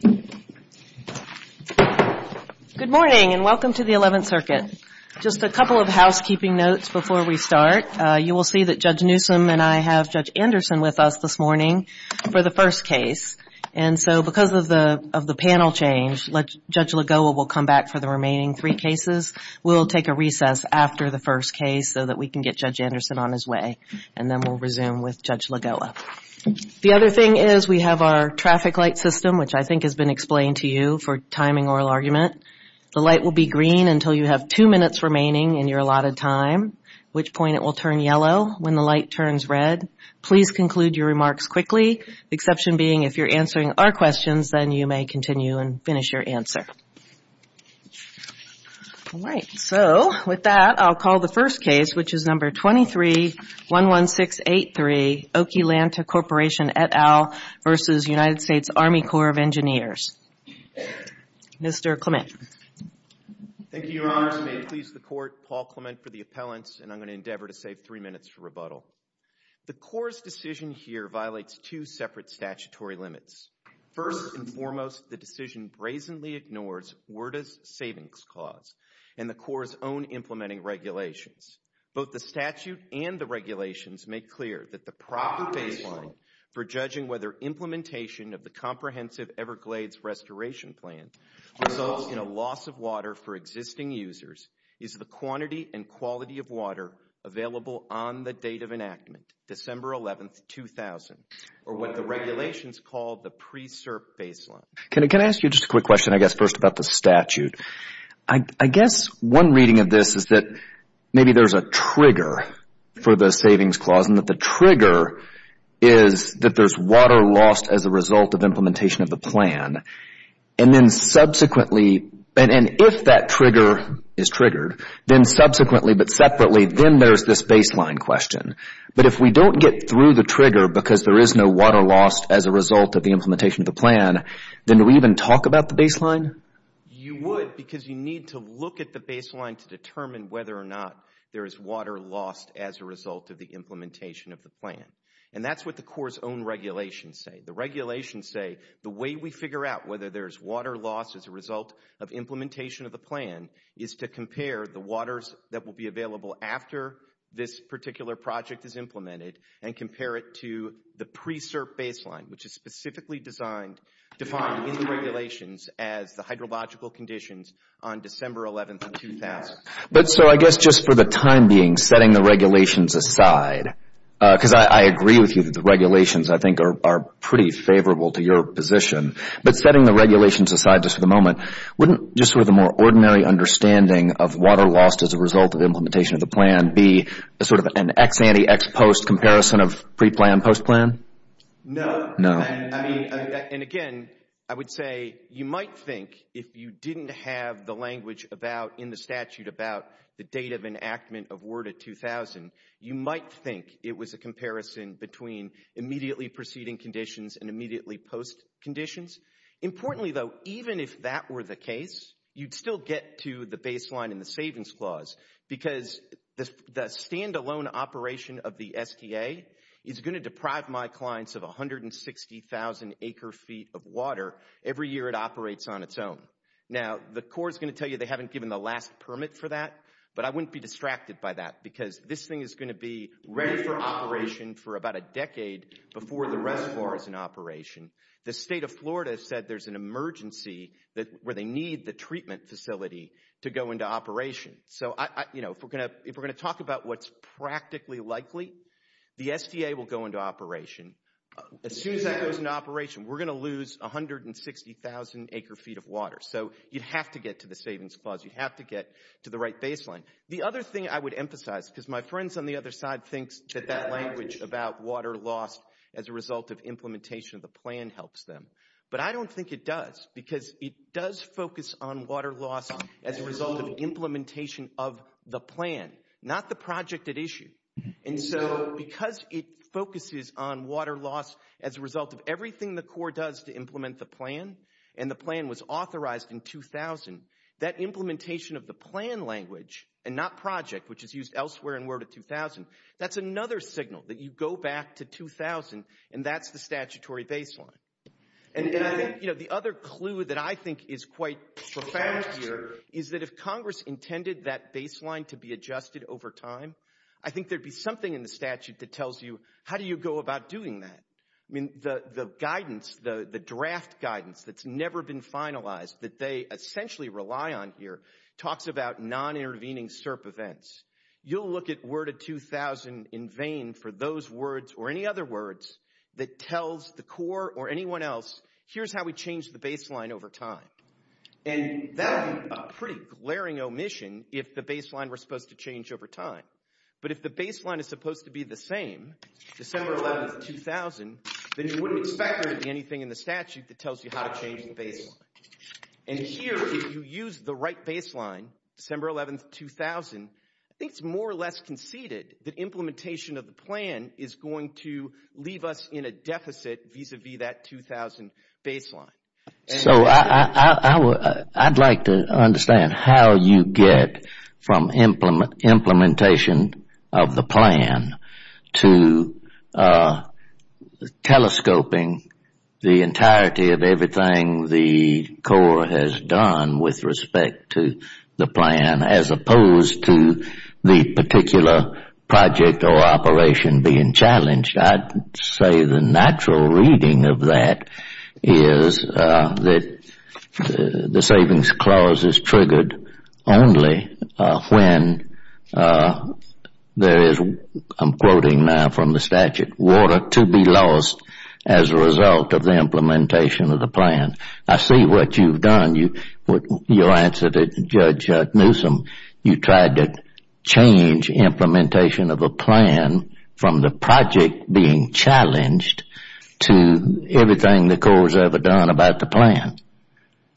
Good morning, and welcome to the Eleventh Circuit. Just a couple of housekeeping notes before we start. You will see that Judge Newsom and I have Judge Anderson with us this morning for the first case, and so because of the panel change, Judge Lagoa will come back for the remaining three cases. We'll take a recess after the first case so that we can get Judge Anderson on his way, and then we'll resume with Judge Lagoa. The other thing is we have our traffic light system, which I think has been explained to you for timing oral argument. The light will be green until you have two minutes remaining in your allotted time, at which point it will turn yellow. When the light turns red, please conclude your remarks quickly, the exception being if you're answering our questions, then you may continue and finish your answer. All right. So, with that, I'll call the first case, which is number 23-11683, Okeelanta Corporation et al. v. United States Army Corps of Engineers. Mr. Clement. Thank you, Your Honors. May it please the Court, Paul Clement for the appellants, and I'm going to endeavor to save three minutes for rebuttal. The Corps' decision here violates two separate statutory limits. First and foremost, the decision brazenly ignores WERDA's savings clause and the Corps' own implementing regulations. Both the statute and the regulations make clear that the proper baseline for judging whether implementation of the Comprehensive Everglades Restoration Plan results in a loss of water for existing users is the quantity and quality of water available on the date of enactment, December 11, 2000, or what the regulations call the pre-SERP baseline. Can I ask you just a quick question, I guess, first about the statute? I guess one reading of this is that maybe there's a trigger for the savings clause, and that the trigger is that there's water lost as a result of implementation of the plan, and then subsequently, and if that trigger is triggered, then subsequently but separately, then there's this baseline question. But if we don't get through the trigger because there is no water lost as a result of the implementation of the plan, then do we even talk about the baseline? You would, because you need to look at the baseline to determine whether or not there is water lost as a result of the implementation of the plan. And that's what the Corps' own regulations say. The regulations say the way we figure out whether there's water lost as a result of implementation of the plan is to compare the waters that will be available after this particular project is implemented, and compare it to the pre-SERP baseline, which is specifically defined in the regulations as the hydrological conditions on December 11, 2000. But, sir, I guess just for the time being, setting the regulations aside, because I agree with you that the regulations, I think, are pretty favorable to your position, but setting the regulations aside just for the moment, wouldn't just sort of the more ordinary understanding of water lost as a result of implementation of the plan be sort of an ex-ante, ex-post comparison of pre-plan, post-plan? No. No. I mean, and again, I would say you might think if you didn't have the language about, in the statute, about the date of enactment of WERDA 2000, you might think it was a comparison between immediately preceding conditions and immediately post conditions. Importantly, though, even if that were the case, you'd still get to the baseline in the savings clause, because the stand-alone operation of the STA is going to deprive my clients of 160,000 acre-feet of water every year it operates on its own. Now, the Corps is going to tell you they haven't given the last permit for that, but I wouldn't be distracted by that, because this thing is going to be ready for operation for about a decade before the rest of ours is in operation. The state of Florida said there's an emergency where they need the treatment facility to go into operation. So, you know, if we're going to talk about what's practically likely, the STA will go into operation. As soon as that goes into operation, we're going to lose 160,000 acre-feet of water, so you'd have to get to the savings clause, you'd have to get to the right baseline. The other thing I would emphasize, because my friends on the other side think that that language about water loss as a result of implementation of the plan helps them, but I don't think it does, because it does focus on water loss as a result of implementation of the plan, not the project at issue. And so, because it focuses on water loss as a result of everything the Corps does to implement the plan, and the plan was authorized in 2000, that implementation of the plan language, and not project, which is used elsewhere in Word of 2000, that's another signal that you go back to 2000, and that's the statutory baseline. And the other clue that I think is quite profound here is that if Congress intended that baseline to be adjusted over time, I think there'd be something in the statute that tells you how do you go about doing that. I mean, the guidance, the draft guidance that's never been finalized, that they essentially rely on here, talks about non-intervening SERP events. You'll look at Word of 2000 in vain for those words or any other words that tells the Corps or anyone else, here's how we change the baseline over time, and that would be a pretty glaring omission if the baseline were supposed to change over time. But if the baseline is supposed to be the same, December 11, 2000, then you wouldn't expect there to be anything in the statute that tells you how to change the baseline. And here, if you use the right baseline, December 11, 2000, I think it's more or less conceded that implementation of the plan is going to leave us in a deficit vis-a-vis that 2000 baseline. So I'd like to understand how you get from implementation of the plan to telescoping the entirety of everything the Corps has done with respect to the plan as opposed to the particular project or operation being challenged. I'd say the natural reading of that is that the Savings Clause is triggered only when there is, I'm quoting now from the statute, water to be lost as a result of the implementation of the plan. I see what you've done, your answer to Judge Newsom, you tried to change implementation of a plan from the project being challenged to everything the Corps has ever done about the plan.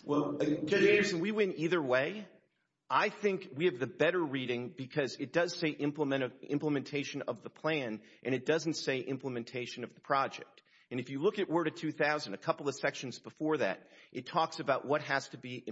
Well, Judge Anderson, we went either way. I think we have the better reading because it does say implementation of the plan and it doesn't say implementation of the project. And if you look at Word of 2000, a couple of sections before that, it talks about what has to be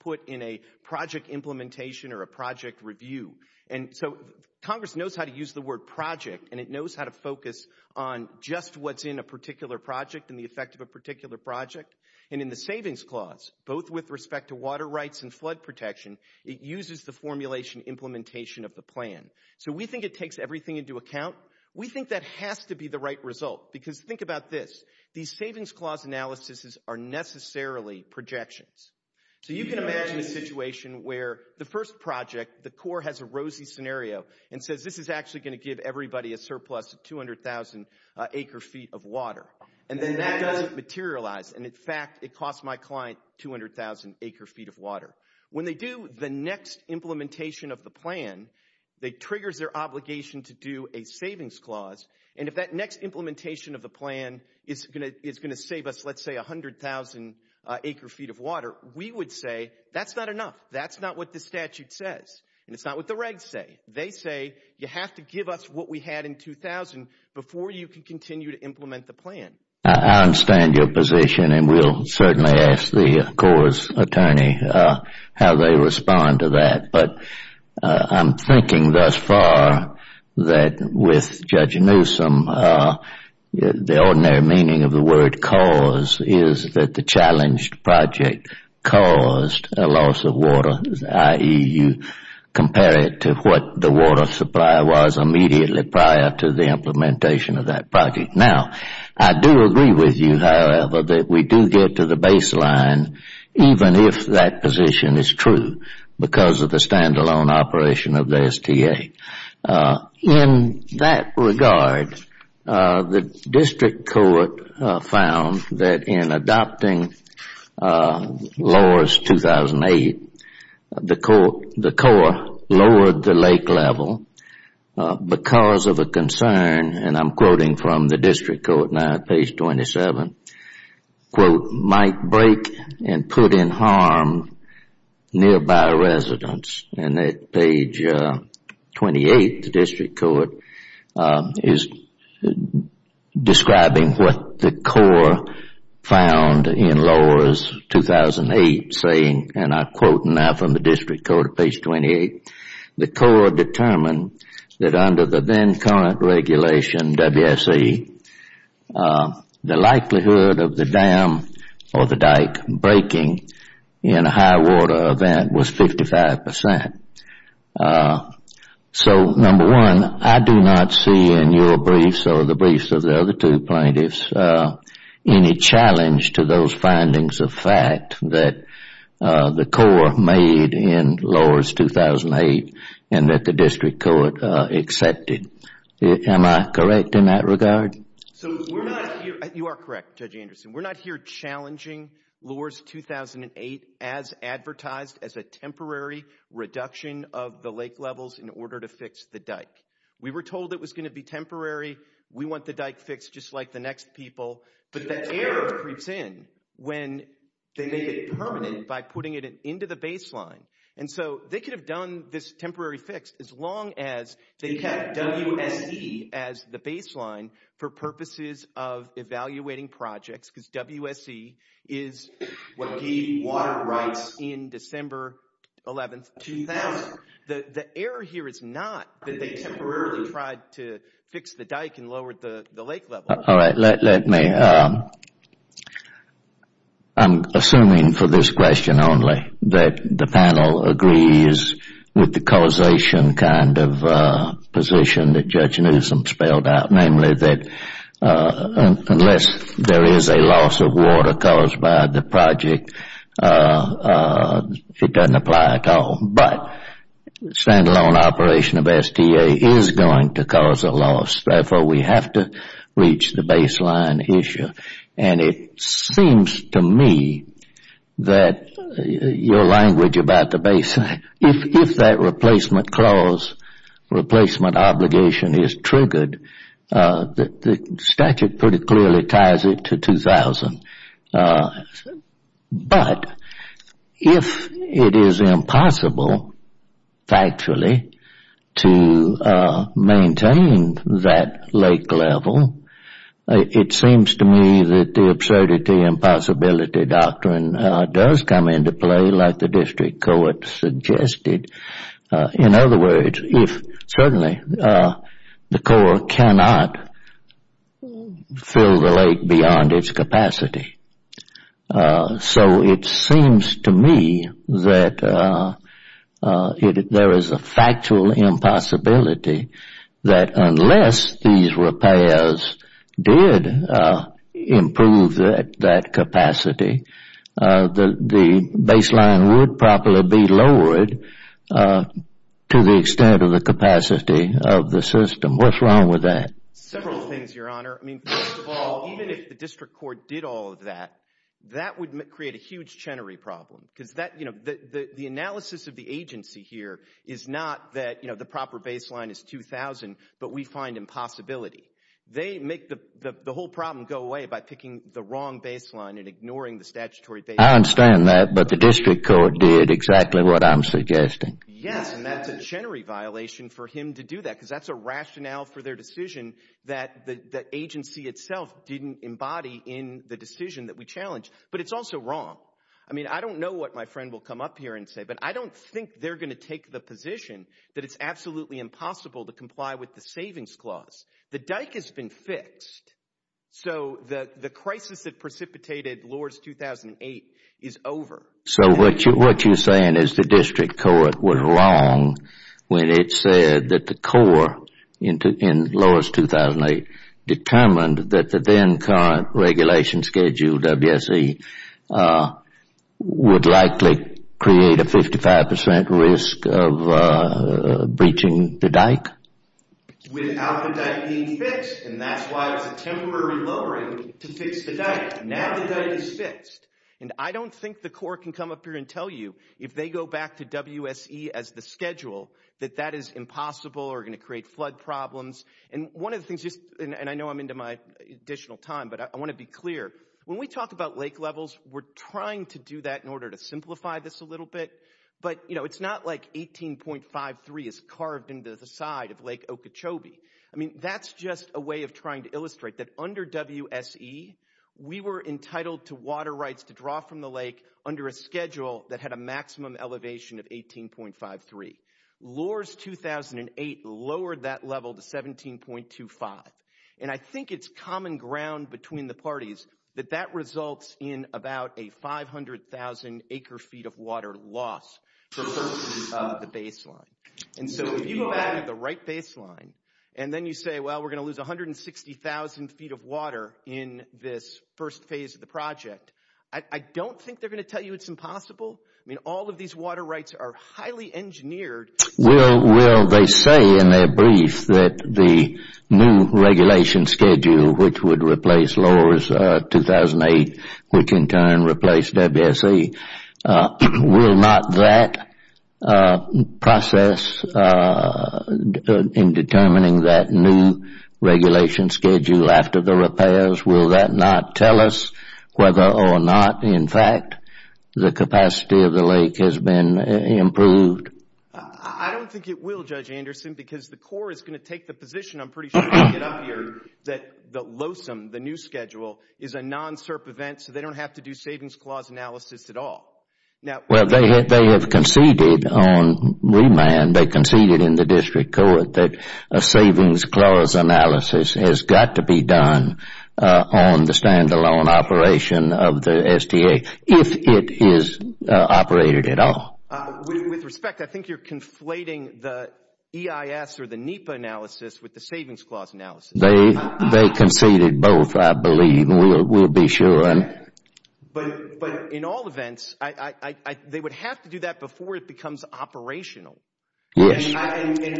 put in a project implementation or a project review. And so Congress knows how to use the word project and it knows how to focus on just what's in a particular project and the effect of a particular project. And in the Savings Clause, both with respect to water rights and flood protection, it uses the formulation implementation of the plan. So we think it takes everything into account. We think that has to be the right result because think about this, these Savings Clause analyses are necessarily projections. So you can imagine a situation where the first project, the Corps has a rosy scenario and says this is actually going to give everybody a surplus of 200,000 acre feet of water. And then that doesn't materialize and, in fact, it costs my client 200,000 acre feet of water. When they do the next implementation of the plan, they trigger their obligation to do a Savings Clause. And if that next implementation of the plan is going to save us, let's say, 100,000 acre feet of water, we would say that's not enough. That's not what the statute says. And it's not what the regs say. They say you have to give us what we had in 2000 before you can continue to implement the plan. I understand your position and we'll certainly ask the Corps' attorney how they respond to that. But I'm thinking thus far that with Judge Newsom, the ordinary meaning of the word cause is that the challenged project caused a loss of water, i.e., you compare it to what the water supply was immediately prior to the implementation of that project. Now, I do agree with you, however, that we do get to the baseline even if that position is true because of the stand-alone operation of the STA. In that regard, the District Court found that in adopting Laws 2008, the Corps lowered the lake level because of a concern, and I'm quoting from the District Court now at page 27, quote, might break and put in harm nearby residents. And at page 28, the District Court is describing what the Corps found in Laws 2008 saying, and I'm quoting now from the District Court at page 28, the Corps determined that under the then current regulation, WSE, the likelihood of the dam or the dike breaking in a high water event was 55 percent. So number one, I do not see in your briefs or the briefs of the other two plaintiffs any challenge to those findings of fact that the Corps made in Laws 2008 and that the District Court accepted. Am I correct in that regard? So we're not here, you are correct Judge Anderson, we're not here challenging Laws 2008 as advertised as a temporary reduction of the lake levels in order to fix the dike. We were told it was going to be temporary, we want the dike fixed just like the next people, but the air creeps in when they make it permanent by putting it into the baseline. And so they could have done this temporary fix as long as they kept WSE as the baseline for purposes of evaluating projects, because WSE is what gave water rights in December 11, 2000. The error here is not that they temporarily tried to fix the dike and lowered the lake levels. All right, let me, I'm assuming for this question only that the panel agrees with the causation kind of position that Judge Newsom spelled out, namely that unless there is a loss of water caused by the project, it doesn't apply at all, but stand-alone operation of STA is going to cause a loss, therefore we have to reach the baseline issue. And it seems to me that your language about the baseline, if that replacement clause, replacement obligation is triggered, the statute pretty clearly ties it to 2000, but if it is impossible, factually, to maintain that lake level, it seems to me that the absurdity and possibility doctrine does come into play like the district court suggested. In other words, if certainly the court cannot fill the lake beyond its capacity. So it seems to me that there is a factual impossibility that unless these repairs did improve that capacity, the baseline would probably be lowered to the extent of the capacity of the system. What's wrong with that? Several things, Your Honor. I mean, first of all, even if the district court did all of that, that would create a huge Chenery problem, because the analysis of the agency here is not that the proper baseline is 2000, but we find impossibility. They make the whole problem go away by picking the wrong baseline and ignoring the statutory baseline. I understand that, but the district court did exactly what I'm suggesting. Yes, and that's a Chenery violation for him to do that, because that's a rationale for their decision that the agency itself didn't embody in the decision that we challenged. But it's also wrong. I mean, I don't know what my friend will come up here and say, but I don't think they're going to take the position that it's absolutely impossible to comply with the savings clause. The dike has been fixed. So the crisis that precipitated Lourdes 2008 is over. So what you're saying is the district court was wrong when it said that the court in Lourdes 2008 determined that the then current regulation schedule, WSE, would likely create a 55% risk of breaching the dike? Without the dike being fixed, and that's why it's a temporary lowering to fix the dike. Now the dike is fixed. And I don't think the court can come up here and tell you, if they go back to WSE as the schedule, that that is impossible or going to create flood problems. And one of the things, and I know I'm into my additional time, but I want to be clear. When we talk about lake levels, we're trying to do that in order to simplify this a little bit. But, you know, it's not like 18.53 is carved into the side of Lake Okeechobee. I mean, that's just a way of trying to illustrate that under WSE, we were entitled to water rights to draw from the lake under a schedule that had a maximum elevation of 18.53. Lourdes 2008 lowered that level to 17.25. And I think it's common ground between the parties that that results in about a 500,000 acre feet of water loss for purposes of the baseline. And so if you go back to the right baseline, and then you say, well, we're going to lose 160,000 feet of water in this first phase of the project, I don't think they're going to tell you it's impossible. I mean, all of these water rights are highly engineered. Well, they say in their brief that the new regulation schedule, which would replace Lourdes 2008, which in turn replaced WSE, will not that process in determining that new regulation schedule after the repairs, will that not tell us whether or not, in fact, the capacity of the lake has been improved? I don't think it will, Judge Anderson, because the Corps is going to take the position, I'm going to get up here, that the LOSM, the new schedule, is a non-SERP event, so they don't have to do savings clause analysis at all. Well, they have conceded on remand, they conceded in the district court that a savings clause analysis has got to be done on the standalone operation of the SDA, if it is operated at all. With respect, I think you're conflating the EIS or the NEPA analysis with the savings clause analysis. They conceded both, I believe, and we'll be sure. But, in all events, they would have to do that before it becomes operational. Yes. And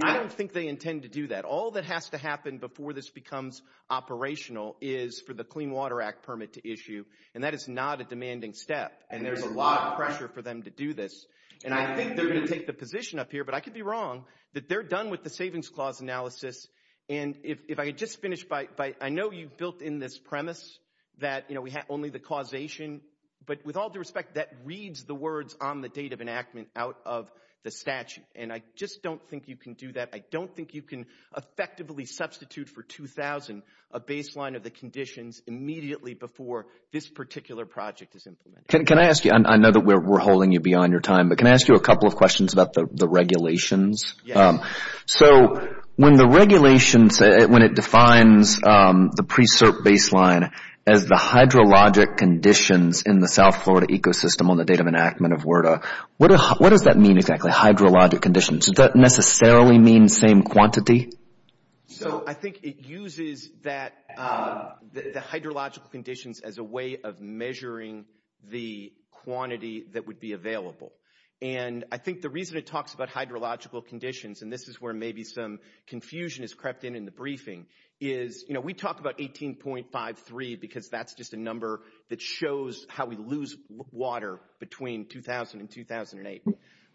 I don't think they intend to do that. All that has to happen before this becomes operational is for the Clean Water Act permit to issue, and that is not a demanding step, and there's a lot of pressure for them to do this. And I think they're going to take the position up here, but I could be wrong, that they're done with the savings clause analysis, and if I could just finish by, I know you've built in this premise that we have only the causation, but with all due respect, that reads the words on the date of enactment out of the statute, and I just don't think you can do that. I don't think you can effectively substitute for $2,000 a baseline of the conditions immediately before this particular project is implemented. Can I ask you, I know that we're holding you beyond your time, but can I ask you a couple of questions about the regulations? So when the regulations, when it defines the pre-cert baseline as the hydrologic conditions in the South Florida ecosystem on the date of enactment of WERDA, what does that mean exactly, hydrologic conditions? Does that necessarily mean same quantity? So I think it uses the hydrologic conditions as a way of measuring the quantity that would I think the reason it talks about hydrological conditions, and this is where maybe some confusion has crept in in the briefing, is, you know, we talk about 18.53 because that's just a number that shows how we lose water between 2000 and 2008,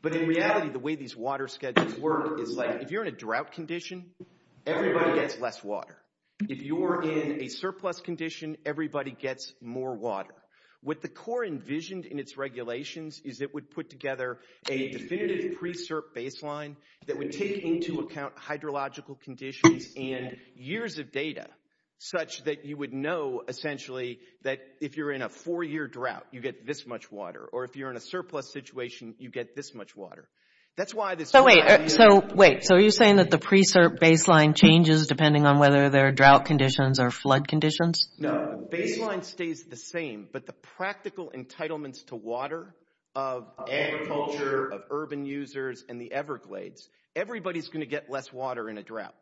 but in reality, the way these water schedules work is like, if you're in a drought condition, everybody gets less water. If you're in a surplus condition, everybody gets more water. What the Corps envisioned in its regulations is it would put together a definitive pre-cert baseline that would take into account hydrological conditions and years of data such that you would know, essentially, that if you're in a four-year drought, you get this much water, or if you're in a surplus situation, you get this much water. That's why this... So wait, so wait, so are you saying that the pre-cert baseline changes depending on whether they're drought conditions or flood conditions? No, the baseline stays the same, but the practical entitlements to water of agriculture, of urban users and the Everglades, everybody's going to get less water in a drought,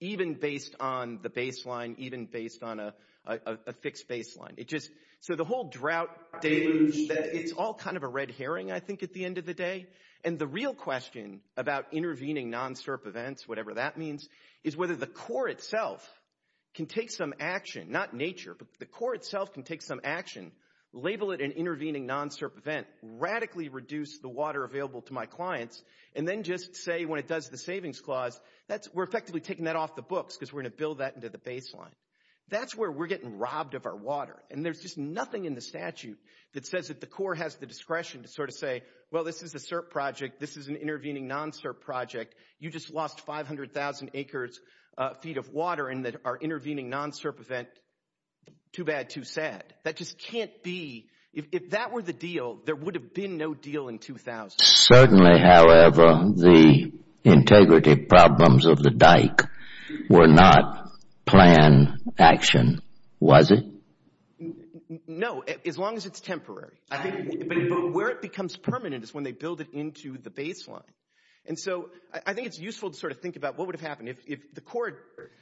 even based on the baseline, even based on a fixed baseline. So the whole drought deluge, it's all kind of a red herring, I think, at the end of the day, and the real question about intervening non-SERP events, whatever that means, is whether the Corps itself can take some action, not nature, but the Corps itself can take some action, label it an intervening non-SERP event, radically reduce the water available to my clients, and then just say when it does the savings clause, we're effectively taking that off the books because we're going to build that into the baseline. That's where we're getting robbed of our water, and there's just nothing in the statute that says that the Corps has the discretion to sort of say, well, this is a SERP project, this is an intervening non-SERP project, you just lost 500,000 acres, feet of water, and that our intervening non-SERP event, too bad, too sad. That just can't be, if that were the deal, there would have been no deal in 2000. Certainly, however, the integrity problems of the dike were not planned action, was it? No, as long as it's temporary, I think, but where it becomes permanent is when they build it into the baseline, and so I think it's useful to sort of think about what would have happened if the Corps,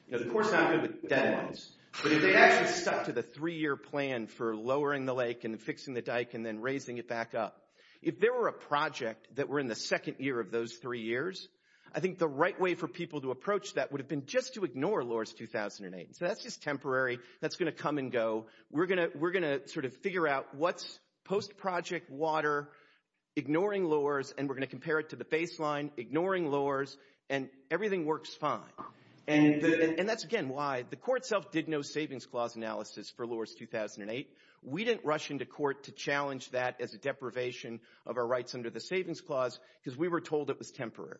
you know, the Corps is not good with deadlines, but if they actually stuck to the three-year plan for lowering the lake and fixing the dike and then raising it back up, if there were a project that were in the second year of those three years, I think the right way for people to approach that would have been just to ignore LORS 2008. So that's just temporary, that's going to come and go, we're going to sort of figure out what's post-project water, ignoring LORS, and we're going to compare it to the baseline, ignoring LORS, and everything works fine, and that's, again, why the Corps itself did no Savings Clause analysis for LORS 2008. We didn't rush into court to challenge that as a deprivation of our rights under the Savings Clause because we were told it was temporary,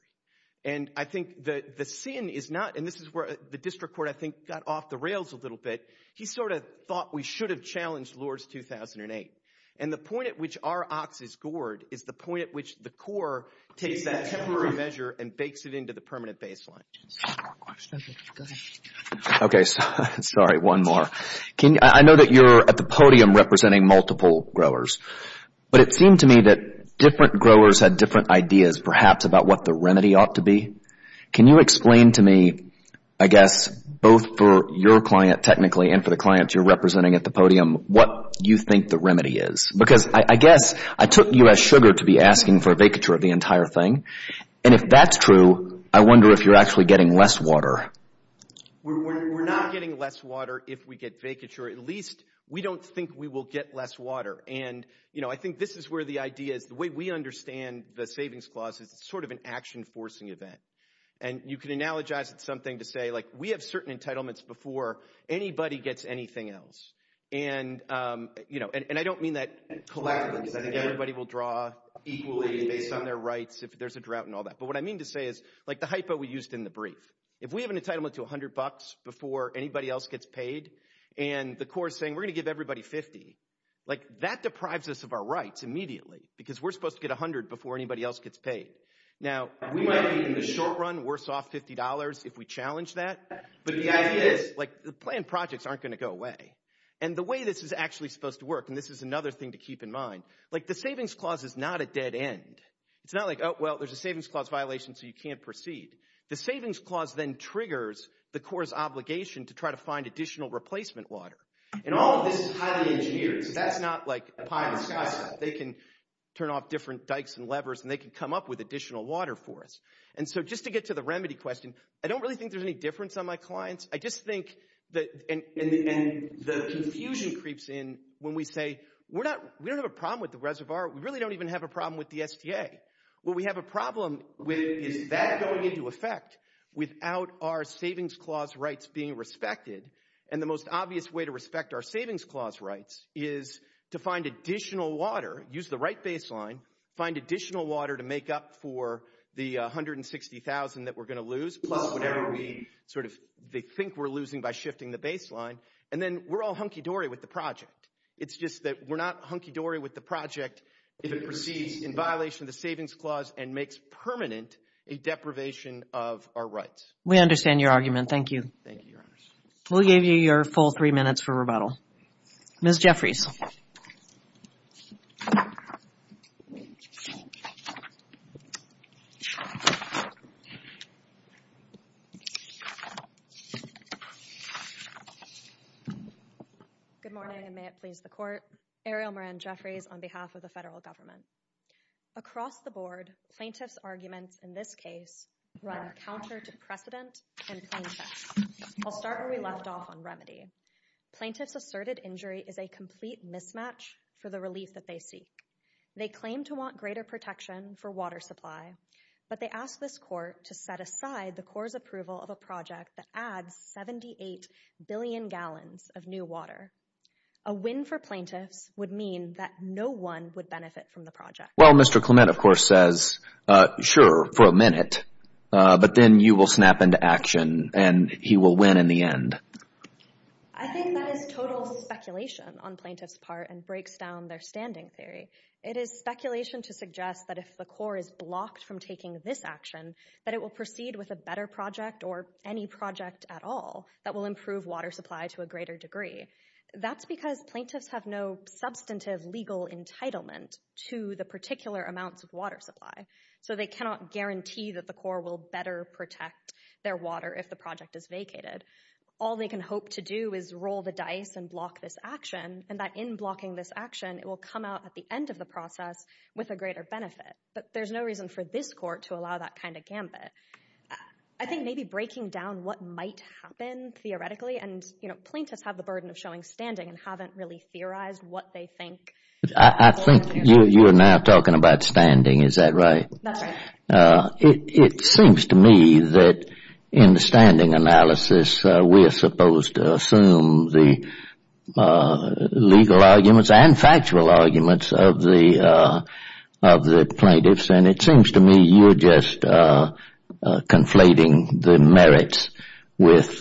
and I think the sin is not, and this is where the District Court, I think, got off the rails a little bit. He sort of thought we should have challenged LORS 2008, and the point at which our ox is gored is the point at which the Corps takes that temporary measure and bakes it into the permanent baseline. Okay, sorry, one more. I know that you're at the podium representing multiple growers, but it seemed to me that different growers had different ideas, perhaps, about what the remedy ought to be. Can you explain to me, I guess, both for your client, technically, and for the clients you're representing at the podium, what you think the remedy is? Because I guess I took you as sugar to be asking for a vacature of the entire thing, and if that's true, I wonder if you're actually getting less water. We're not getting less water if we get vacature. At least, we don't think we will get less water, and I think this is where the idea is, the way we understand the savings clause is it's sort of an action-forcing event, and you can analogize it to something to say, like, we have certain entitlements before anybody gets anything else, and I don't mean that collaterally, because I think everybody will draw equally based on their rights if there's a drought and all that, but what I mean to say is, like the hypo we used in the brief, if we have an entitlement to 100 bucks before anybody else gets paid, and the Corps is saying, we're going to give everybody 50, that deprives us of our rights immediately, because we're supposed to get 100 before anybody else gets paid. Now, we might be in the short run worse off $50 if we challenge that, but the idea is, the planned projects aren't going to go away, and the way this is actually supposed to work, and this is another thing to keep in mind, the savings clause is not a dead end. It's not like, oh, well, there's a savings clause violation, so you can't proceed. The savings clause then triggers the Corps' obligation to try to find additional replacement water, and all of this is highly engineered, so that's not like a pie in the sky stuff. They can turn off different dikes and levers, and they can come up with additional water for us, and so just to get to the remedy question, I don't really think there's any difference on my clients. I just think, and the confusion creeps in when we say, we don't have a problem with the reservoir. We really don't even have a problem with the STA. What we have a problem with is that going into effect without our savings clause rights being respected, and the most obvious way to respect our savings clause rights is to find additional water, use the right baseline, find additional water to make up for the $160,000 that we're going to lose, plus whatever we sort of think we're losing by shifting the baseline, and then we're all hunky-dory with the project. It's just that we're not hunky-dory with the project if it proceeds in violation of the savings clause and makes permanent a deprivation of our rights. We understand your argument. Thank you. Thank you, Your Honor. We'll give you your full three minutes for rebuttal. Ms. Jeffries. Good morning, and may it please the Court. Ariel Moran Jeffries on behalf of the federal government. Across the board, plaintiffs' arguments in this case run counter to precedent and plaintiffs'. I'll start where we left off on remedy. Plaintiffs' asserted injury is a complete mismatch for the relief that they seek. They claim to want greater protection for water supply, but they ask this Court to set aside the Corps' approval of a project that adds 78 billion gallons of new water. A win for plaintiffs would mean that no one would benefit from the project. Well, Mr. Clement, of course, says, sure, for a minute, but then you will snap into action and he will win in the end. I think that is total speculation on plaintiffs' part and breaks down their standing theory. It is speculation to suggest that if the Corps is blocked from taking this action, that it will proceed with a better project or any project at all that will improve water to a greater degree. That's because plaintiffs have no substantive legal entitlement to the particular amounts of water supply. So they cannot guarantee that the Corps will better protect their water if the project is vacated. All they can hope to do is roll the dice and block this action and that in blocking this action, it will come out at the end of the process with a greater benefit. But there's no reason for this Court to allow that kind of gambit. I think maybe breaking down what might happen theoretically and, you know, plaintiffs have the burden of showing standing and haven't really theorized what they think. I think you're now talking about standing. Is that right? It seems to me that in the standing analysis, we are supposed to assume the legal arguments and factual arguments of the plaintiffs. And it seems to me you're just conflating the merits with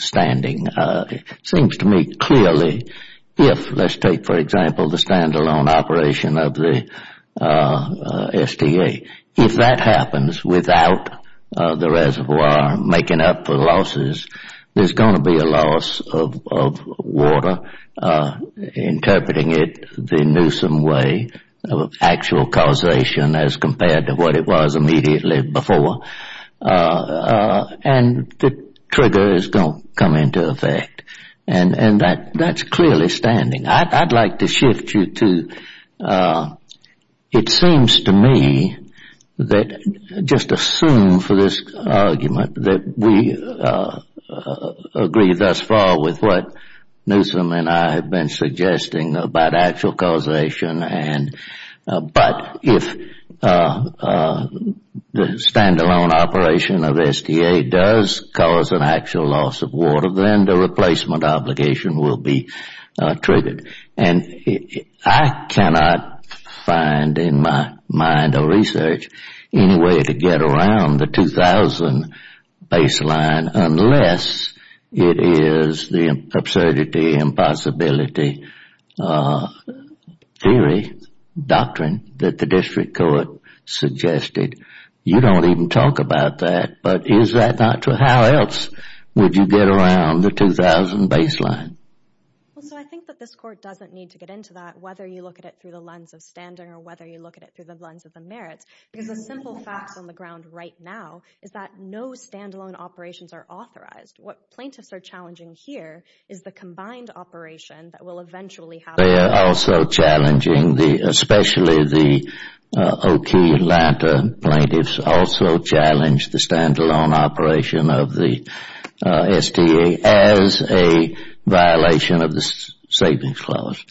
standing. It seems to me clearly if, let's take, for example, the standalone operation of the STA, if that happens without the reservoir making up for losses, there's going to be a loss of water, interpreting it the Newsom way of actual causation as compared to what it was immediately before. And the trigger is going to come into effect. And that's clearly standing. I'd like to shift you to, it seems to me that just assume for this argument that we have agreed thus far with what Newsom and I have been suggesting about actual causation. But if the standalone operation of the STA does cause an actual loss of water, then the replacement obligation will be triggered. And I cannot find in my mind or research any way to get around the 2000 baseline unless it is the absurdity, impossibility theory, doctrine that the district court suggested. You don't even talk about that. But is that not true? How else would you get around the 2000 baseline? Well, so I think that this court doesn't need to get into that, whether you look at it through the lens of standing or whether you look at it through the lens of the merits, because the simple facts on the ground right now is that no standalone operations are authorized. What plaintiffs are challenging here is the combined operation that will eventually happen. They are also challenging the, especially the O.K. Atlanta plaintiffs also challenge the standalone operation of the STA as a violation of the savings clause.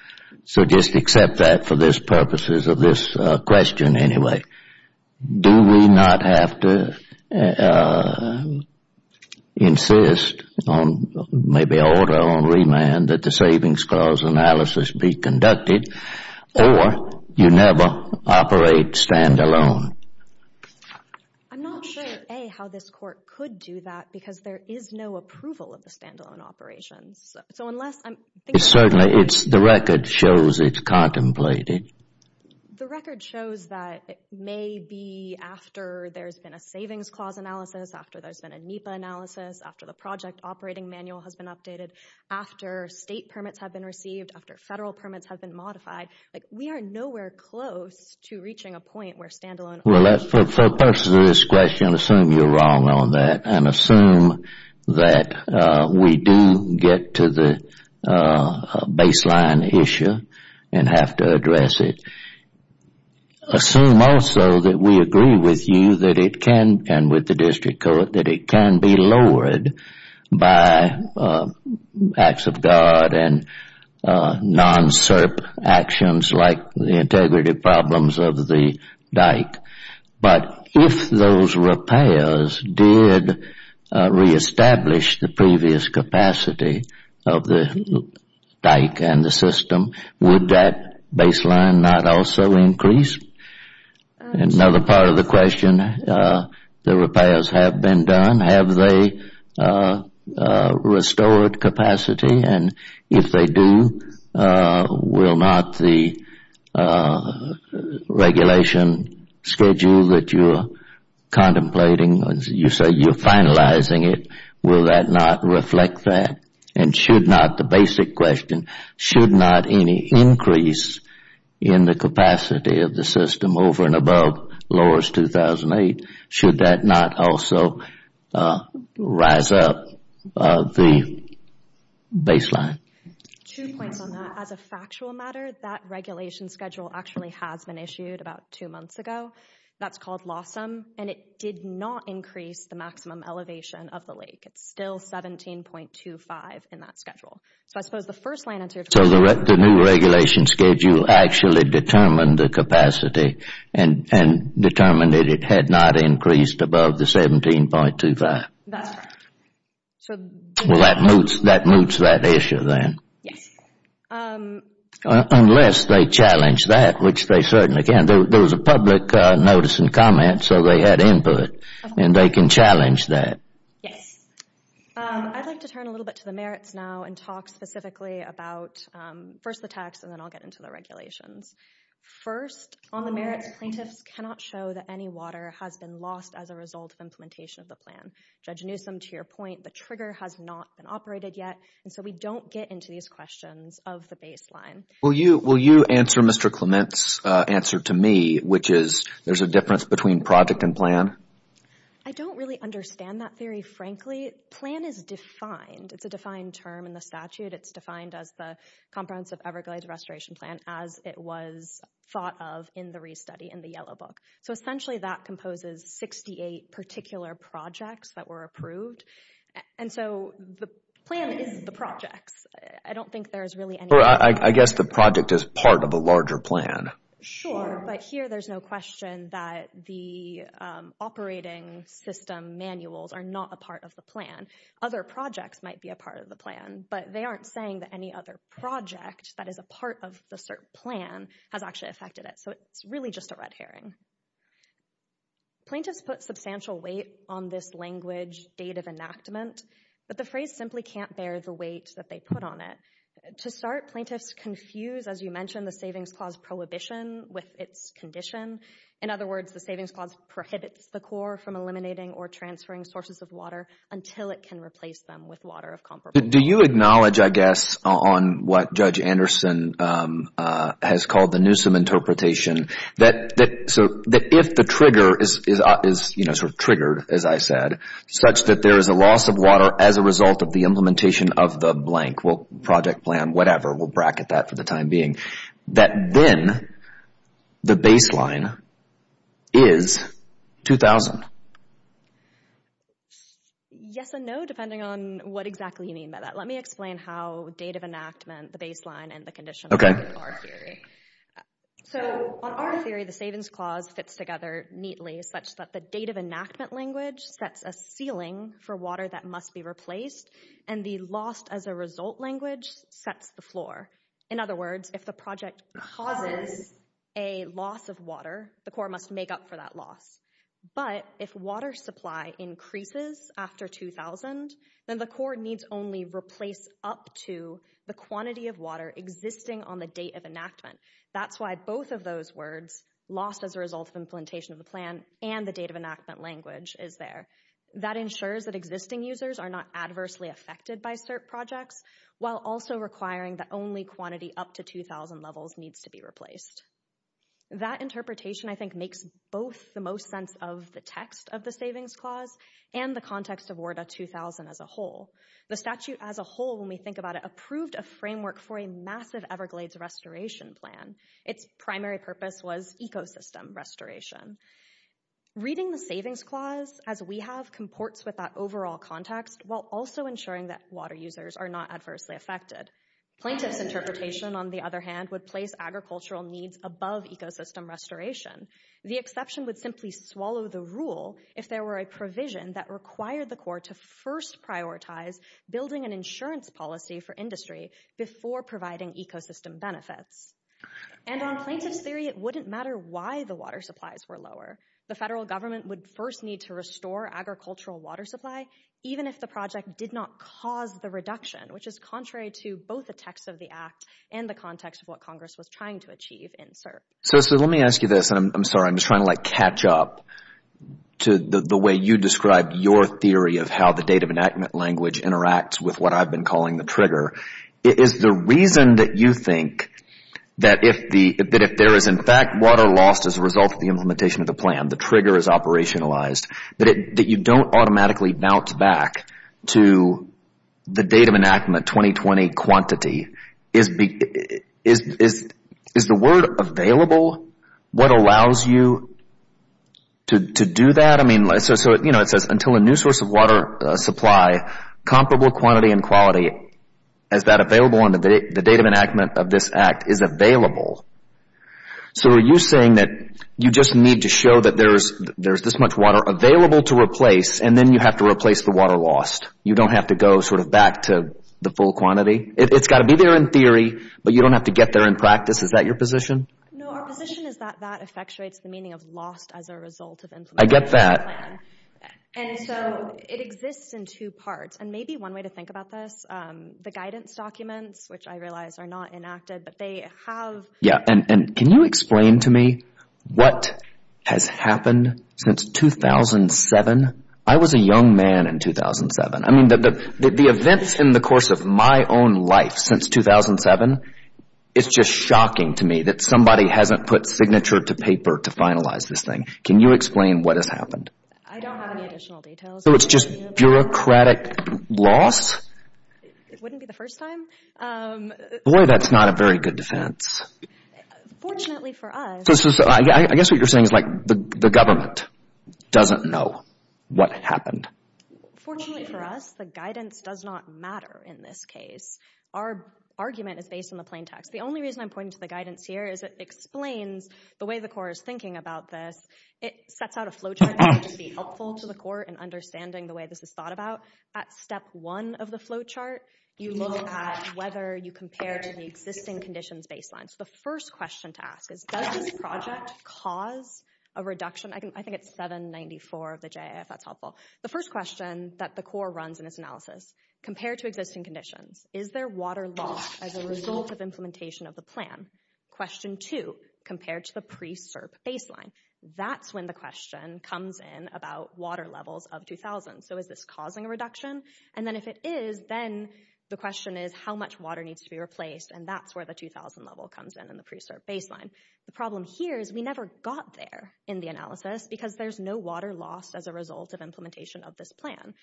So just accept that for this purposes of this question anyway. Do we not have to insist on maybe order on remand that the savings clause analysis be conducted or you never operate standalone? I'm not sure, A, how this court could do that, because there is no approval of the standalone operations. So unless I'm... Certainly, it's the record shows it contemplated. The record shows that it may be after there's been a savings clause analysis, after there's been a NEPA analysis, after the project operating manual has been updated, after state permits have been received, after federal permits have been modified, like we are nowhere close to reaching a point where standalone... Well, for purposes of this question, assume you're wrong on that and assume that we do get to the baseline issue and have to address it. Assume also that we agree with you that it can, and with the district court, that it non-SERP actions like the integrity problems of the dike, but if those repairs did reestablish the previous capacity of the dike and the system, would that baseline not also increase? Another part of the question, the repairs have been done. Have they restored capacity? And if they do, will not the regulation schedule that you're contemplating, you say you're finalizing it, will that not reflect that? And should not, the basic question, should not any increase in the capacity of the system over and above LORS 2008, should that not also rise up the baseline? Two points on that. As a factual matter, that regulation schedule actually has been issued about two months ago. That's called LOSSM, and it did not increase the maximum elevation of the lake. It's still 17.25 in that schedule. So I suppose the first line answer... The new regulation schedule actually determined the capacity and determined that it had not increased above the 17.25. Well, that moves that issue then. Unless they challenge that, which they certainly can. There was a public notice and comment, so they had input, and they can challenge that. Yes. I'd like to turn a little bit to the merits now and talk specifically about first the tax, and then I'll get into the regulations. First, on the merits, plaintiffs cannot show that any water has been lost as a result of implementation of the plan. Judge Newsom, to your point, the trigger has not been operated yet, and so we don't get into these questions of the baseline. Will you answer Mr. Clement's answer to me, which is there's a difference between project and plan? I don't really understand that theory, frankly. Plan is defined. It's a defined term in the statute. It's defined as the Comprehensive Everglades Restoration Plan, as it was thought of in the re-study in the Yellow Book. So essentially, that composes 68 particular projects that were approved. And so the plan is the projects. I don't think there's really any... Or I guess the project is part of a larger plan. Sure, but here there's no question that the operating system manuals are not a part of the plan. Other projects might be a part of the plan, but they aren't saying that any other project that is a part of the cert plan has actually affected it. So it's really just a red herring. Plaintiffs put substantial weight on this language, date of enactment, but the phrase simply can't bear the weight that they put on it. To start, plaintiffs confuse, as you mentioned, the Savings Clause prohibition with its condition. In other words, the Savings Clause prohibits the Corps from eliminating or transferring sources of water until it can replace them with water of comparable... Do you acknowledge, I guess, on what Judge Anderson has called the Newsom interpretation, that if the trigger is triggered, as I said, such that there is a loss of water as a result of the implementation of the blank project plan, whatever, we'll bracket that for the time being, that then the baseline is 2,000? Yes and no, depending on what exactly you mean by that. Let me explain how date of enactment, the baseline, and the condition are in our theory. So on our theory, the Savings Clause fits together neatly such that the date of enactment sets a ceiling for water that must be replaced and the lost as a result language sets the floor. In other words, if the project causes a loss of water, the Corps must make up for that loss. But if water supply increases after 2,000, then the Corps needs only replace up to the quantity of water existing on the date of enactment. That's why both of those words, lost as a result of implementation of the plan and the date of enactment language, is there. That ensures that existing users are not adversely affected by CERP projects, while also requiring that only quantity up to 2,000 levels needs to be replaced. That interpretation, I think, makes both the most sense of the text of the Savings Clause and the context of WERDA 2000 as a whole. The statute as a whole, when we think about it, approved a framework for a massive Everglades restoration plan. Its primary purpose was ecosystem restoration. Reading the Savings Clause, as we have, comports with that overall context, while also ensuring that water users are not adversely affected. Plaintiff's interpretation, on the other hand, would place agricultural needs above ecosystem restoration. The exception would simply swallow the rule if there were a provision that required the Corps to first prioritize building an insurance policy for industry before providing ecosystem benefits. And on plaintiff's theory, it wouldn't matter why the water supplies were lower. The federal government would first need to restore agricultural water supply, even if the project did not cause the reduction, which is contrary to both the text of the Act and the context of what Congress was trying to achieve in CERP. So let me ask you this, and I'm sorry, I'm just trying to, like, catch up to the way you described your theory of how the date of enactment language interacts with what I've been calling the trigger. Is the reason that you think that if there is, in fact, water lost as a result of the implementation of the plan, the trigger is operationalized, that you don't automatically bounce back to the date of enactment, 2020 quantity. Is the word available what allows you to do that? I mean, so, you know, it says, until a new source of water supply, comparable quantity and quality, is that available on the date of enactment of this Act is available. So are you saying that you just need to show that there's this much water available to replace, and then you have to replace the water lost? You don't have to go sort of back to the full quantity? It's got to be there in theory, but you don't have to get there in practice. Is that your position? No, our position is that that effectuates the meaning of lost as a result of implementation. I get that. And so it exists in two parts. And maybe one way to think about this, the guidance documents, which I realize are not enacted, but they have... Yeah, and can you explain to me what has happened since 2007? I was a young man in 2007. I mean, the events in the course of my own life since 2007, it's just shocking to me that somebody hasn't put signature to paper to finalize this thing. Can you explain what has happened? I don't have any additional details. So it's just bureaucratic loss? It wouldn't be the first time. Boy, that's not a very good defense. Fortunately for us... So I guess what you're saying is like the government doesn't know what happened. Fortunately for us, the guidance does not matter in this case. Our argument is based on the plain text. The only reason I'm pointing to the guidance here is it explains the way the Corps is thinking about this. It sets out a flowchart that could be helpful to the Corps in understanding the way this is thought about. At step one of the flowchart, you look at whether you compare to the existing conditions baseline. So the first question to ask is, does this project cause a reduction? I think it's 794 of the JIF. That's helpful. The first question that the Corps runs in its analysis, compared to existing conditions, is there water loss as a result of implementation of the plan? Question two, compared to the pre-SERP baseline. That's when the question comes in about water levels of 2,000. So is this causing a reduction? And then if it is, then the question is, how much water needs to be replaced? And that's where the 2,000 level comes in, in the pre-SERP baseline. The problem here is we never got there in the analysis because there's no water lost as a result of implementation of this plan.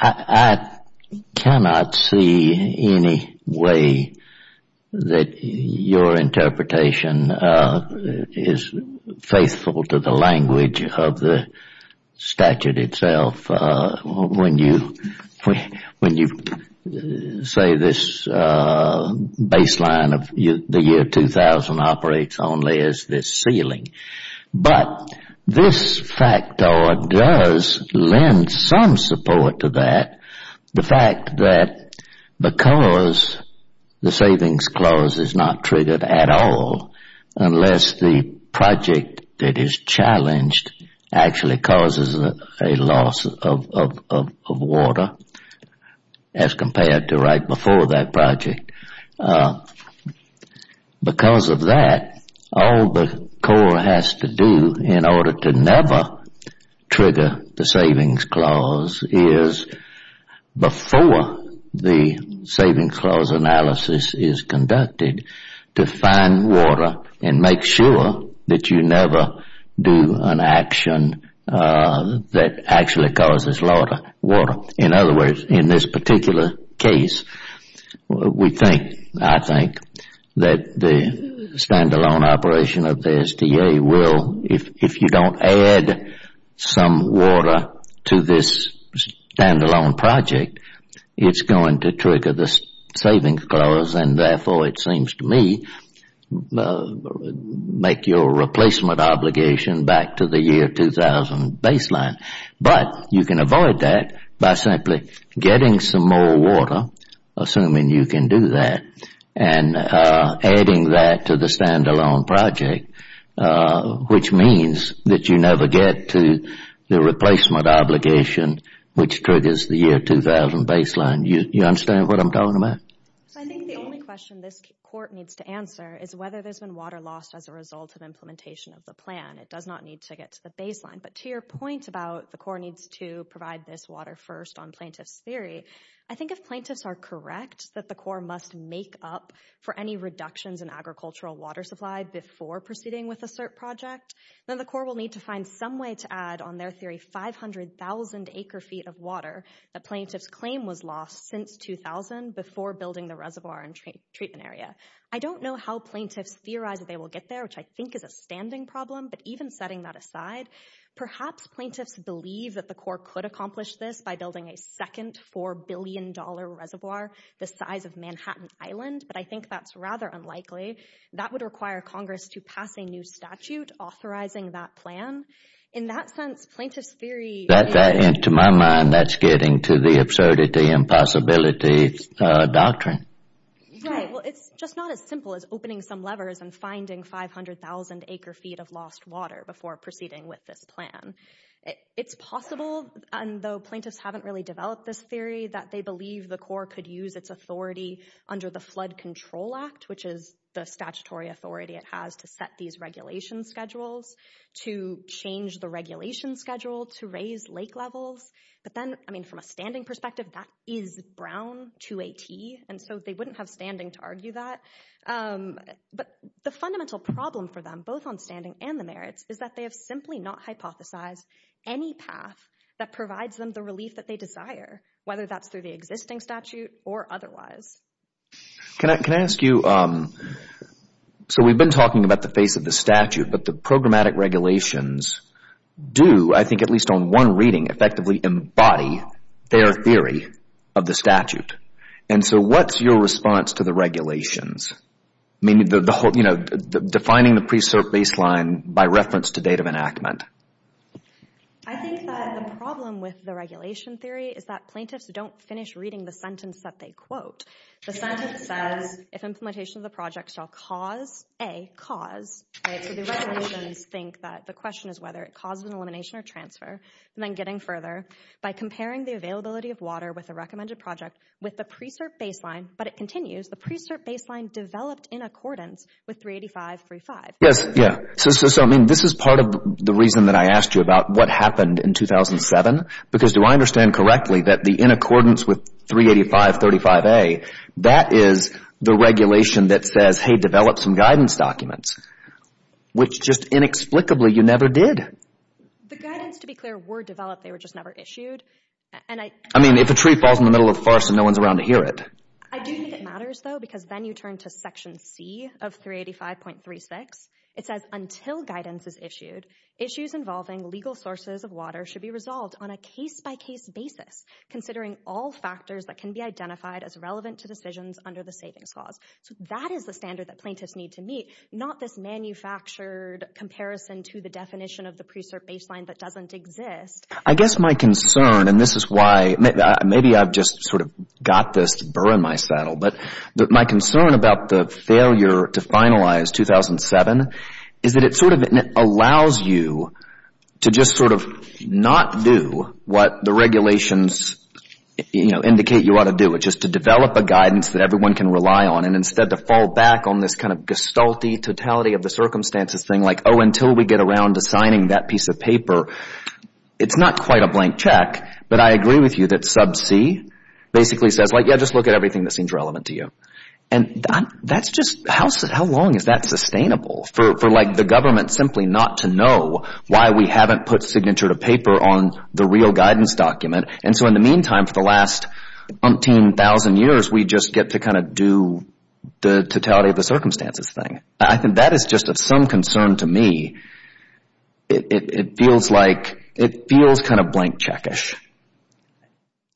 I cannot see any way that your interpretation is faithful to the language of the statute itself when you say this baseline of the year 2,000 operates only as this ceiling. But this factor does lend some support to that. The fact that because the savings clause is not triggered at all, unless the project that is challenged actually causes a loss of water, as compared to right before that project, because of that, all the Corps has to do in order to never trigger the savings clause is, before the savings clause analysis is conducted, to find water and make sure that you never do an action that actually causes water. In other words, in this particular case, we think, I think, that the standalone operation of the SDA will, if you don't add some water to this standalone project, it's going to trigger the savings clause. And therefore, it seems to me, make your replacement obligation back to the year 2,000 baseline. But you can avoid that by simply getting some more water, assuming you can do that, and adding that to the standalone project, which means that you never get to the replacement obligation, which triggers the year 2,000 baseline. Do you understand what I'm talking about? I think the only question this Court needs to answer is whether there's been water lost as a result of implementation of the plan. It does not need to get to the baseline. But to your point about the Court needs to provide this water first on plaintiff's theory, I think if plaintiffs are correct that the Court must make up for any reductions in agricultural water supply before proceeding with a CERT project, then the Court will need to find some way to add, on their theory, 500,000 acre-feet of water that plaintiff's claim was lost since 2000 before building the reservoir and treatment area. I don't know how plaintiffs theorize that they will get there, which I think is a standing problem, but even setting that aside, perhaps plaintiffs believe that the Court could accomplish this by building a second $4 billion reservoir the size of Manhattan Island, but I think that's rather unlikely. That would require Congress to pass a new statute authorizing that plan. In that sense, plaintiffs' theory— That, to my mind, that's getting to the absurdity and possibility doctrine. Right, well, it's just not as simple as opening some levers and finding 500,000 acre-feet of lost water before proceeding with this plan. It's possible, and though plaintiffs haven't really developed this theory, that they believe the Court could use its authority under the Flood Control Act, which is the statutory authority it has to set these regulation schedules, to change the regulation schedule, to raise lake levels, but then, I mean, from a standing perspective, that is brown to a T, and so they wouldn't have standing to argue that. But the fundamental problem for them, both on standing and the merits, is that they have simply not hypothesized any path that provides them the relief that they desire, whether that's through the existing statute or otherwise. Can I ask you—so we've been talking about the face of the statute, but the programmatic regulations do, I think at least on one reading, effectively embody their theory of the statute, and so what's your response to the regulations? I mean, you know, defining the pre-cert baseline by reference to date of enactment. I think that the problem with the regulation theory is that plaintiffs don't finish reading the sentence that they quote. The sentence says, if implementation of the project shall cause a cause, right, so the regulations think that the question is whether it causes an elimination or transfer, and then getting further, by comparing the availability of water with a recommended project with the but it continues, the pre-cert baseline developed in accordance with 385.35. Yes, yeah, so I mean, this is part of the reason that I asked you about what happened in 2007, because do I understand correctly that the in accordance with 385.35a, that is the regulation that says, hey, develop some guidance documents, which just inexplicably you never did. The guidance, to be clear, were developed, they were just never issued, and I— I mean, if a tree falls in the middle of the forest and no one's around to hear it. I do think it matters, though, because then you turn to Section C of 385.36. It says, until guidance is issued, issues involving legal sources of water should be resolved on a case-by-case basis, considering all factors that can be identified as relevant to decisions under the savings clause. So that is the standard that plaintiffs need to meet, not this manufactured comparison to the definition of the pre-cert baseline that doesn't exist. I guess my concern, and this is why—maybe I've just sort of got this burr in my saddle, but my concern about the failure to finalize 2007 is that it sort of allows you to just sort of not do what the regulations, you know, indicate you ought to do, which is to develop a guidance that everyone can rely on, and instead to fall back on this kind of gestalt-y totality of the circumstances thing, like, oh, until we get around to signing that piece of paper, it's not quite a blank check, but I agree with you that Sub C basically says, like, yeah, just look at everything that seems relevant to you. And that's just—how long is that sustainable for, like, the government simply not to know why we haven't put signature to paper on the real guidance document? And so in the meantime, for the last umpteen thousand years, we just get to kind of do the totality of the circumstances thing. I think that is just of some concern to me. It feels like—it feels kind of blank check-ish.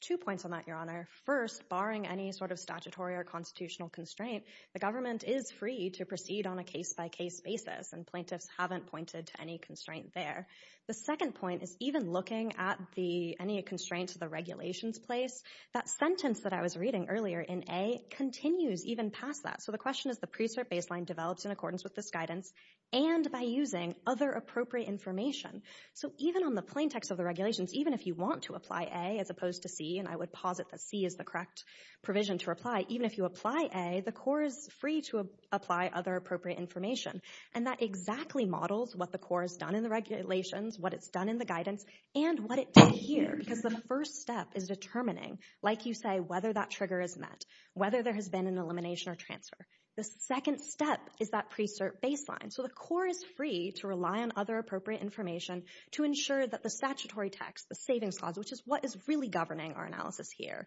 Two points on that, Your Honor. First, barring any sort of statutory or constitutional constraint, the government is free to proceed on a case-by-case basis, and plaintiffs haven't pointed to any constraint there. The second point is even looking at the—any constraints the regulations place, that sentence that I was reading earlier in A continues even past that. So the question is, the pre-cert baseline develops in accordance with this guidance and by using other appropriate information. So even on the plaintext of the regulations, even if you want to apply A as opposed to C—and I would posit that C is the correct provision to apply—even if you apply A, the Corps is free to apply other appropriate information. And that exactly models what the Corps has done in the regulations, what it's done in the guidance, and what it did here. Because the first step is determining, like you say, whether that trigger is met, whether there has been an elimination or transfer. The second step is that pre-cert baseline. So the Corps is free to rely on other appropriate information to ensure that the statutory text, the savings clause, which is what is really governing our analysis here,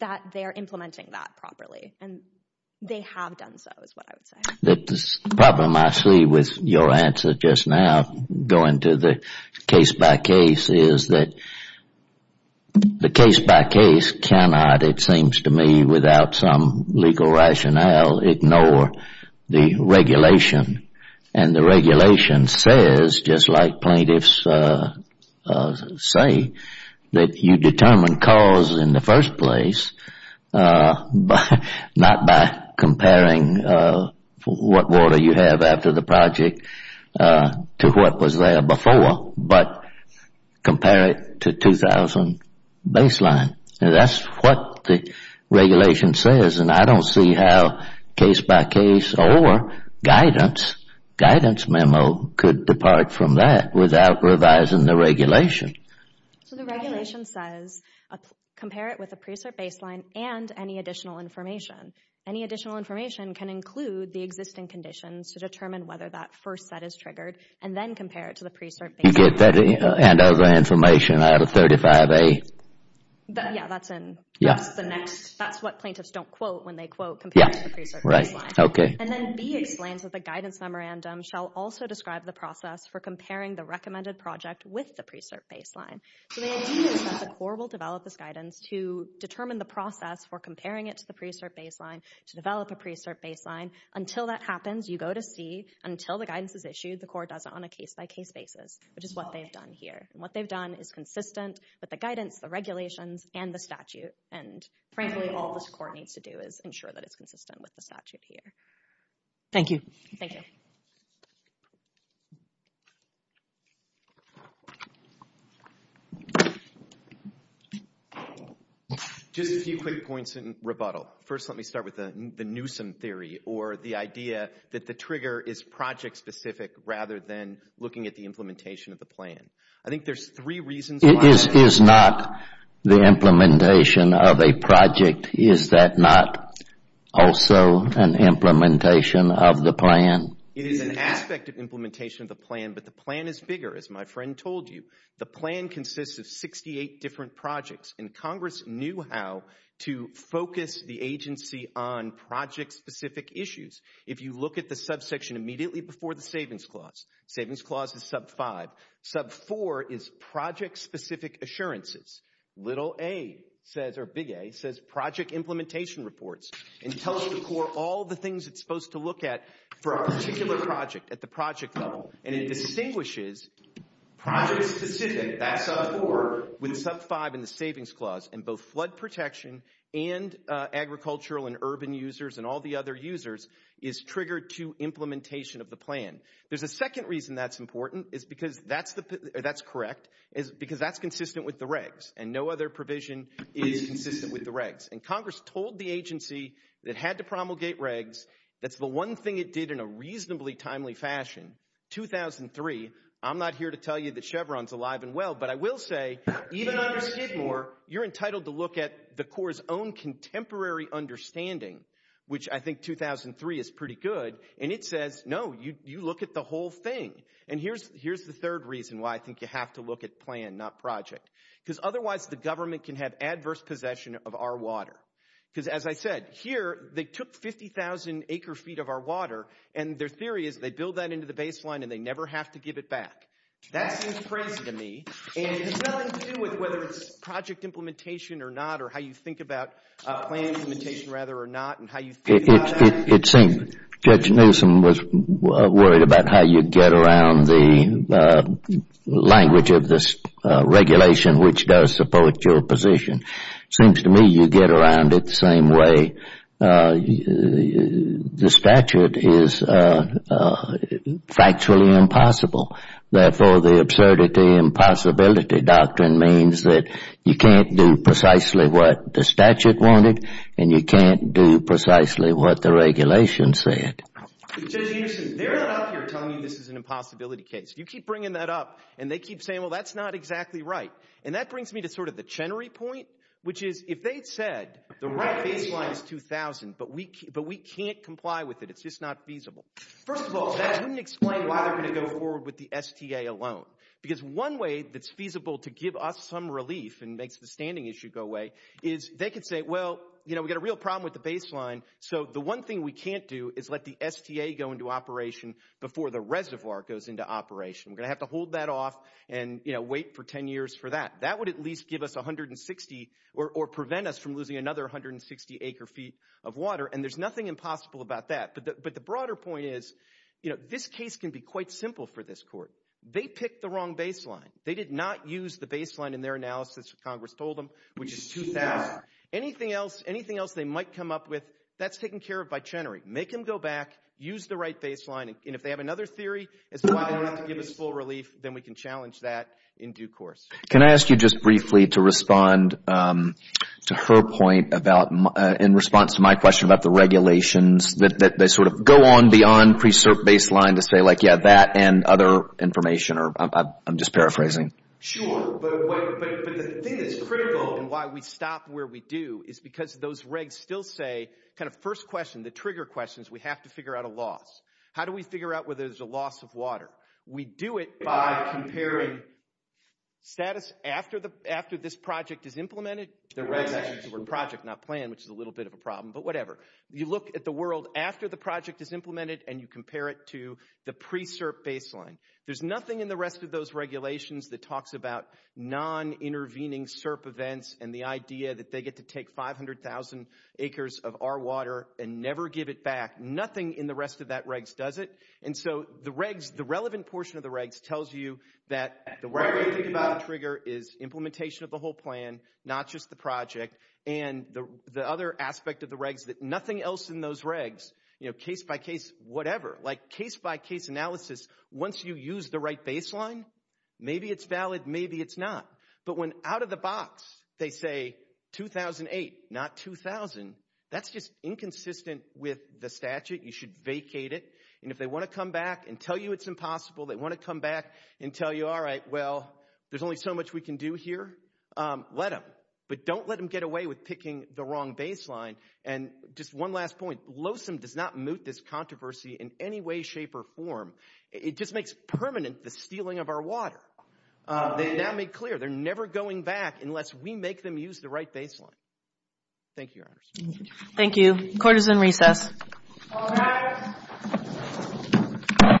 that they are implementing that properly. And they have done so, is what I would say. The problem I see with your answer just now, going to the case-by-case, is that the case-by-case cannot, it seems to me, without some legal rationale, ignore the regulation. And the regulation says, just like plaintiffs say, that you determine cause in the first place, not by comparing what water you have after the project to what was there before, but compare it to 2000 baseline. That's what the regulation says. And I don't see how case-by-case or guidance, guidance memo could depart from that without revising the regulation. So the regulation says, compare it with a pre-cert baseline and any additional information. Any additional information can include the existing conditions to determine whether that first set is triggered, and then compare it to the pre-cert baseline. You get that and other information out of 35A? Yeah, that's what plaintiffs don't quote when they quote compared to the pre-cert baseline. And then B explains that the guidance memorandum shall also describe the process for comparing the recommended project with the pre-cert baseline. So the idea is that the Corps will develop this guidance to determine the process for comparing it to the pre-cert baseline, to develop a pre-cert baseline. Until that happens, you go to C, until the guidance is issued, the Corps does it on a case-by-case basis, which is what they've done here. And what they've done is consistent with the guidance, the regulations, and the statute. And frankly, all this Corps needs to do is ensure that it's consistent with the statute here. Thank you. Thank you. Just a few quick points in rebuttal. First, let me start with the Newsom theory, or the idea that the trigger is project-specific rather than looking at the implementation of the plan. I think there's three reasons why. It is not the implementation of a project. Is that not also an implementation of the plan? It is an aspect of implementation of the plan, but the plan is bigger. As my friend told you, the plan consists of 68 different projects. And Congress knew how to focus the agency on project-specific issues. If you look at the subsection immediately before the Savings Clause, the Savings Clause is sub 5. Sub 4 is project-specific assurances. Little a says, or big A, says project implementation reports. And it tells the Corps all the things it's supposed to look at for a particular project at the project level. And it distinguishes project-specific, that's sub 4, with sub 5 in the Savings Clause. And both flood protection and agricultural and urban users and all the other users is triggered to implementation of the plan. There's a second reason that's important, that's correct, because that's consistent with the regs. And no other provision is consistent with the regs. And Congress told the agency that it had to promulgate regs. That's the one thing it did in a reasonably timely fashion. 2003, I'm not here to tell you that Chevron's alive and well, but I will say, even under Skidmore, you're entitled to look at the Corps' own contemporary understanding, which I think 2003 is pretty good. And it says, no, you look at the whole thing. And here's the third reason why I think you have to look at plan, not project. Because otherwise, the government can have adverse possession of our water. Because as I said, here, they took 50,000 acre feet of our water, and their theory is they build that into the baseline and they never have to give it back. That seems crazy to me. And it has nothing to do with whether it's project implementation or not, or how you think about plan implementation, rather, or not, and how you think about that. It seems Judge Newsom was worried about how you get around the language of this regulation, which does support your position. Seems to me you get around it the same way. The statute is factually impossible. Therefore, the absurdity and possibility doctrine means that you can't do precisely what the statute wanted, and you can't do precisely what the regulation said. Judge Newsom, they're not up here telling you this is an impossibility case. You keep bringing that up, and they keep saying, well, that's not exactly right. And that brings me to sort of the Chenery point, which is, if they'd said the right baseline is 2,000, but we can't comply with it, it's just not feasible. First of all, that wouldn't explain why they're going to go forward with the STA alone. Because one way that's feasible to give us some relief and makes the standing issue go is they could say, well, we've got a real problem with the baseline, so the one thing we can't do is let the STA go into operation before the reservoir goes into operation. We're going to have to hold that off and wait for 10 years for that. That would at least give us 160 or prevent us from losing another 160 acre-feet of water, and there's nothing impossible about that. But the broader point is, this case can be quite simple for this court. They picked the wrong baseline. They did not use the baseline in their analysis, as Congress told them, which is 2,000. Anything else they might come up with, that's taken care of by Chenery. Make them go back, use the right baseline, and if they have another theory as to why they don't have to give us full relief, then we can challenge that in due course. Can I ask you just briefly to respond to her point in response to my question about the regulations that they sort of go on beyond pre-cert baseline to say, like, yeah, that and other information, or I'm just paraphrasing. Sure, but the thing that's critical and why we stop where we do is because those regs still say, kind of first question, the trigger questions, we have to figure out a loss. How do we figure out whether there's a loss of water? We do it by comparing status after this project is implemented. The regs actually say project, not plan, which is a little bit of a problem, but whatever. You look at the world after the project is implemented, and you compare it to the pre-cert baseline, there's nothing in the rest of those regulations that talks about non-intervening CERP events and the idea that they get to take 500,000 acres of our water and never give it back. Nothing in the rest of that regs does it, and so the regs, the relevant portion of the regs tells you that the right way to think about a trigger is implementation of the whole plan, not just the project, and the other aspect of the regs that nothing else in those regs, case-by-case, whatever, like case-by-case analysis, once you use the right baseline, maybe it's valid, maybe it's not, but when out of the box they say 2008, not 2000, that's just inconsistent with the statute. You should vacate it, and if they want to come back and tell you it's impossible, they want to come back and tell you, all right, well, there's only so much we can do here, let them, but don't let them get away with picking the wrong baseline, and just one last point, LOSM does not moot this controversy in any way, shape, or form. It just makes permanent the stealing of our water. They've now made clear they're never going back unless we make them use the right baseline. Thank you, Your Honors. Thank you. Court is in recess.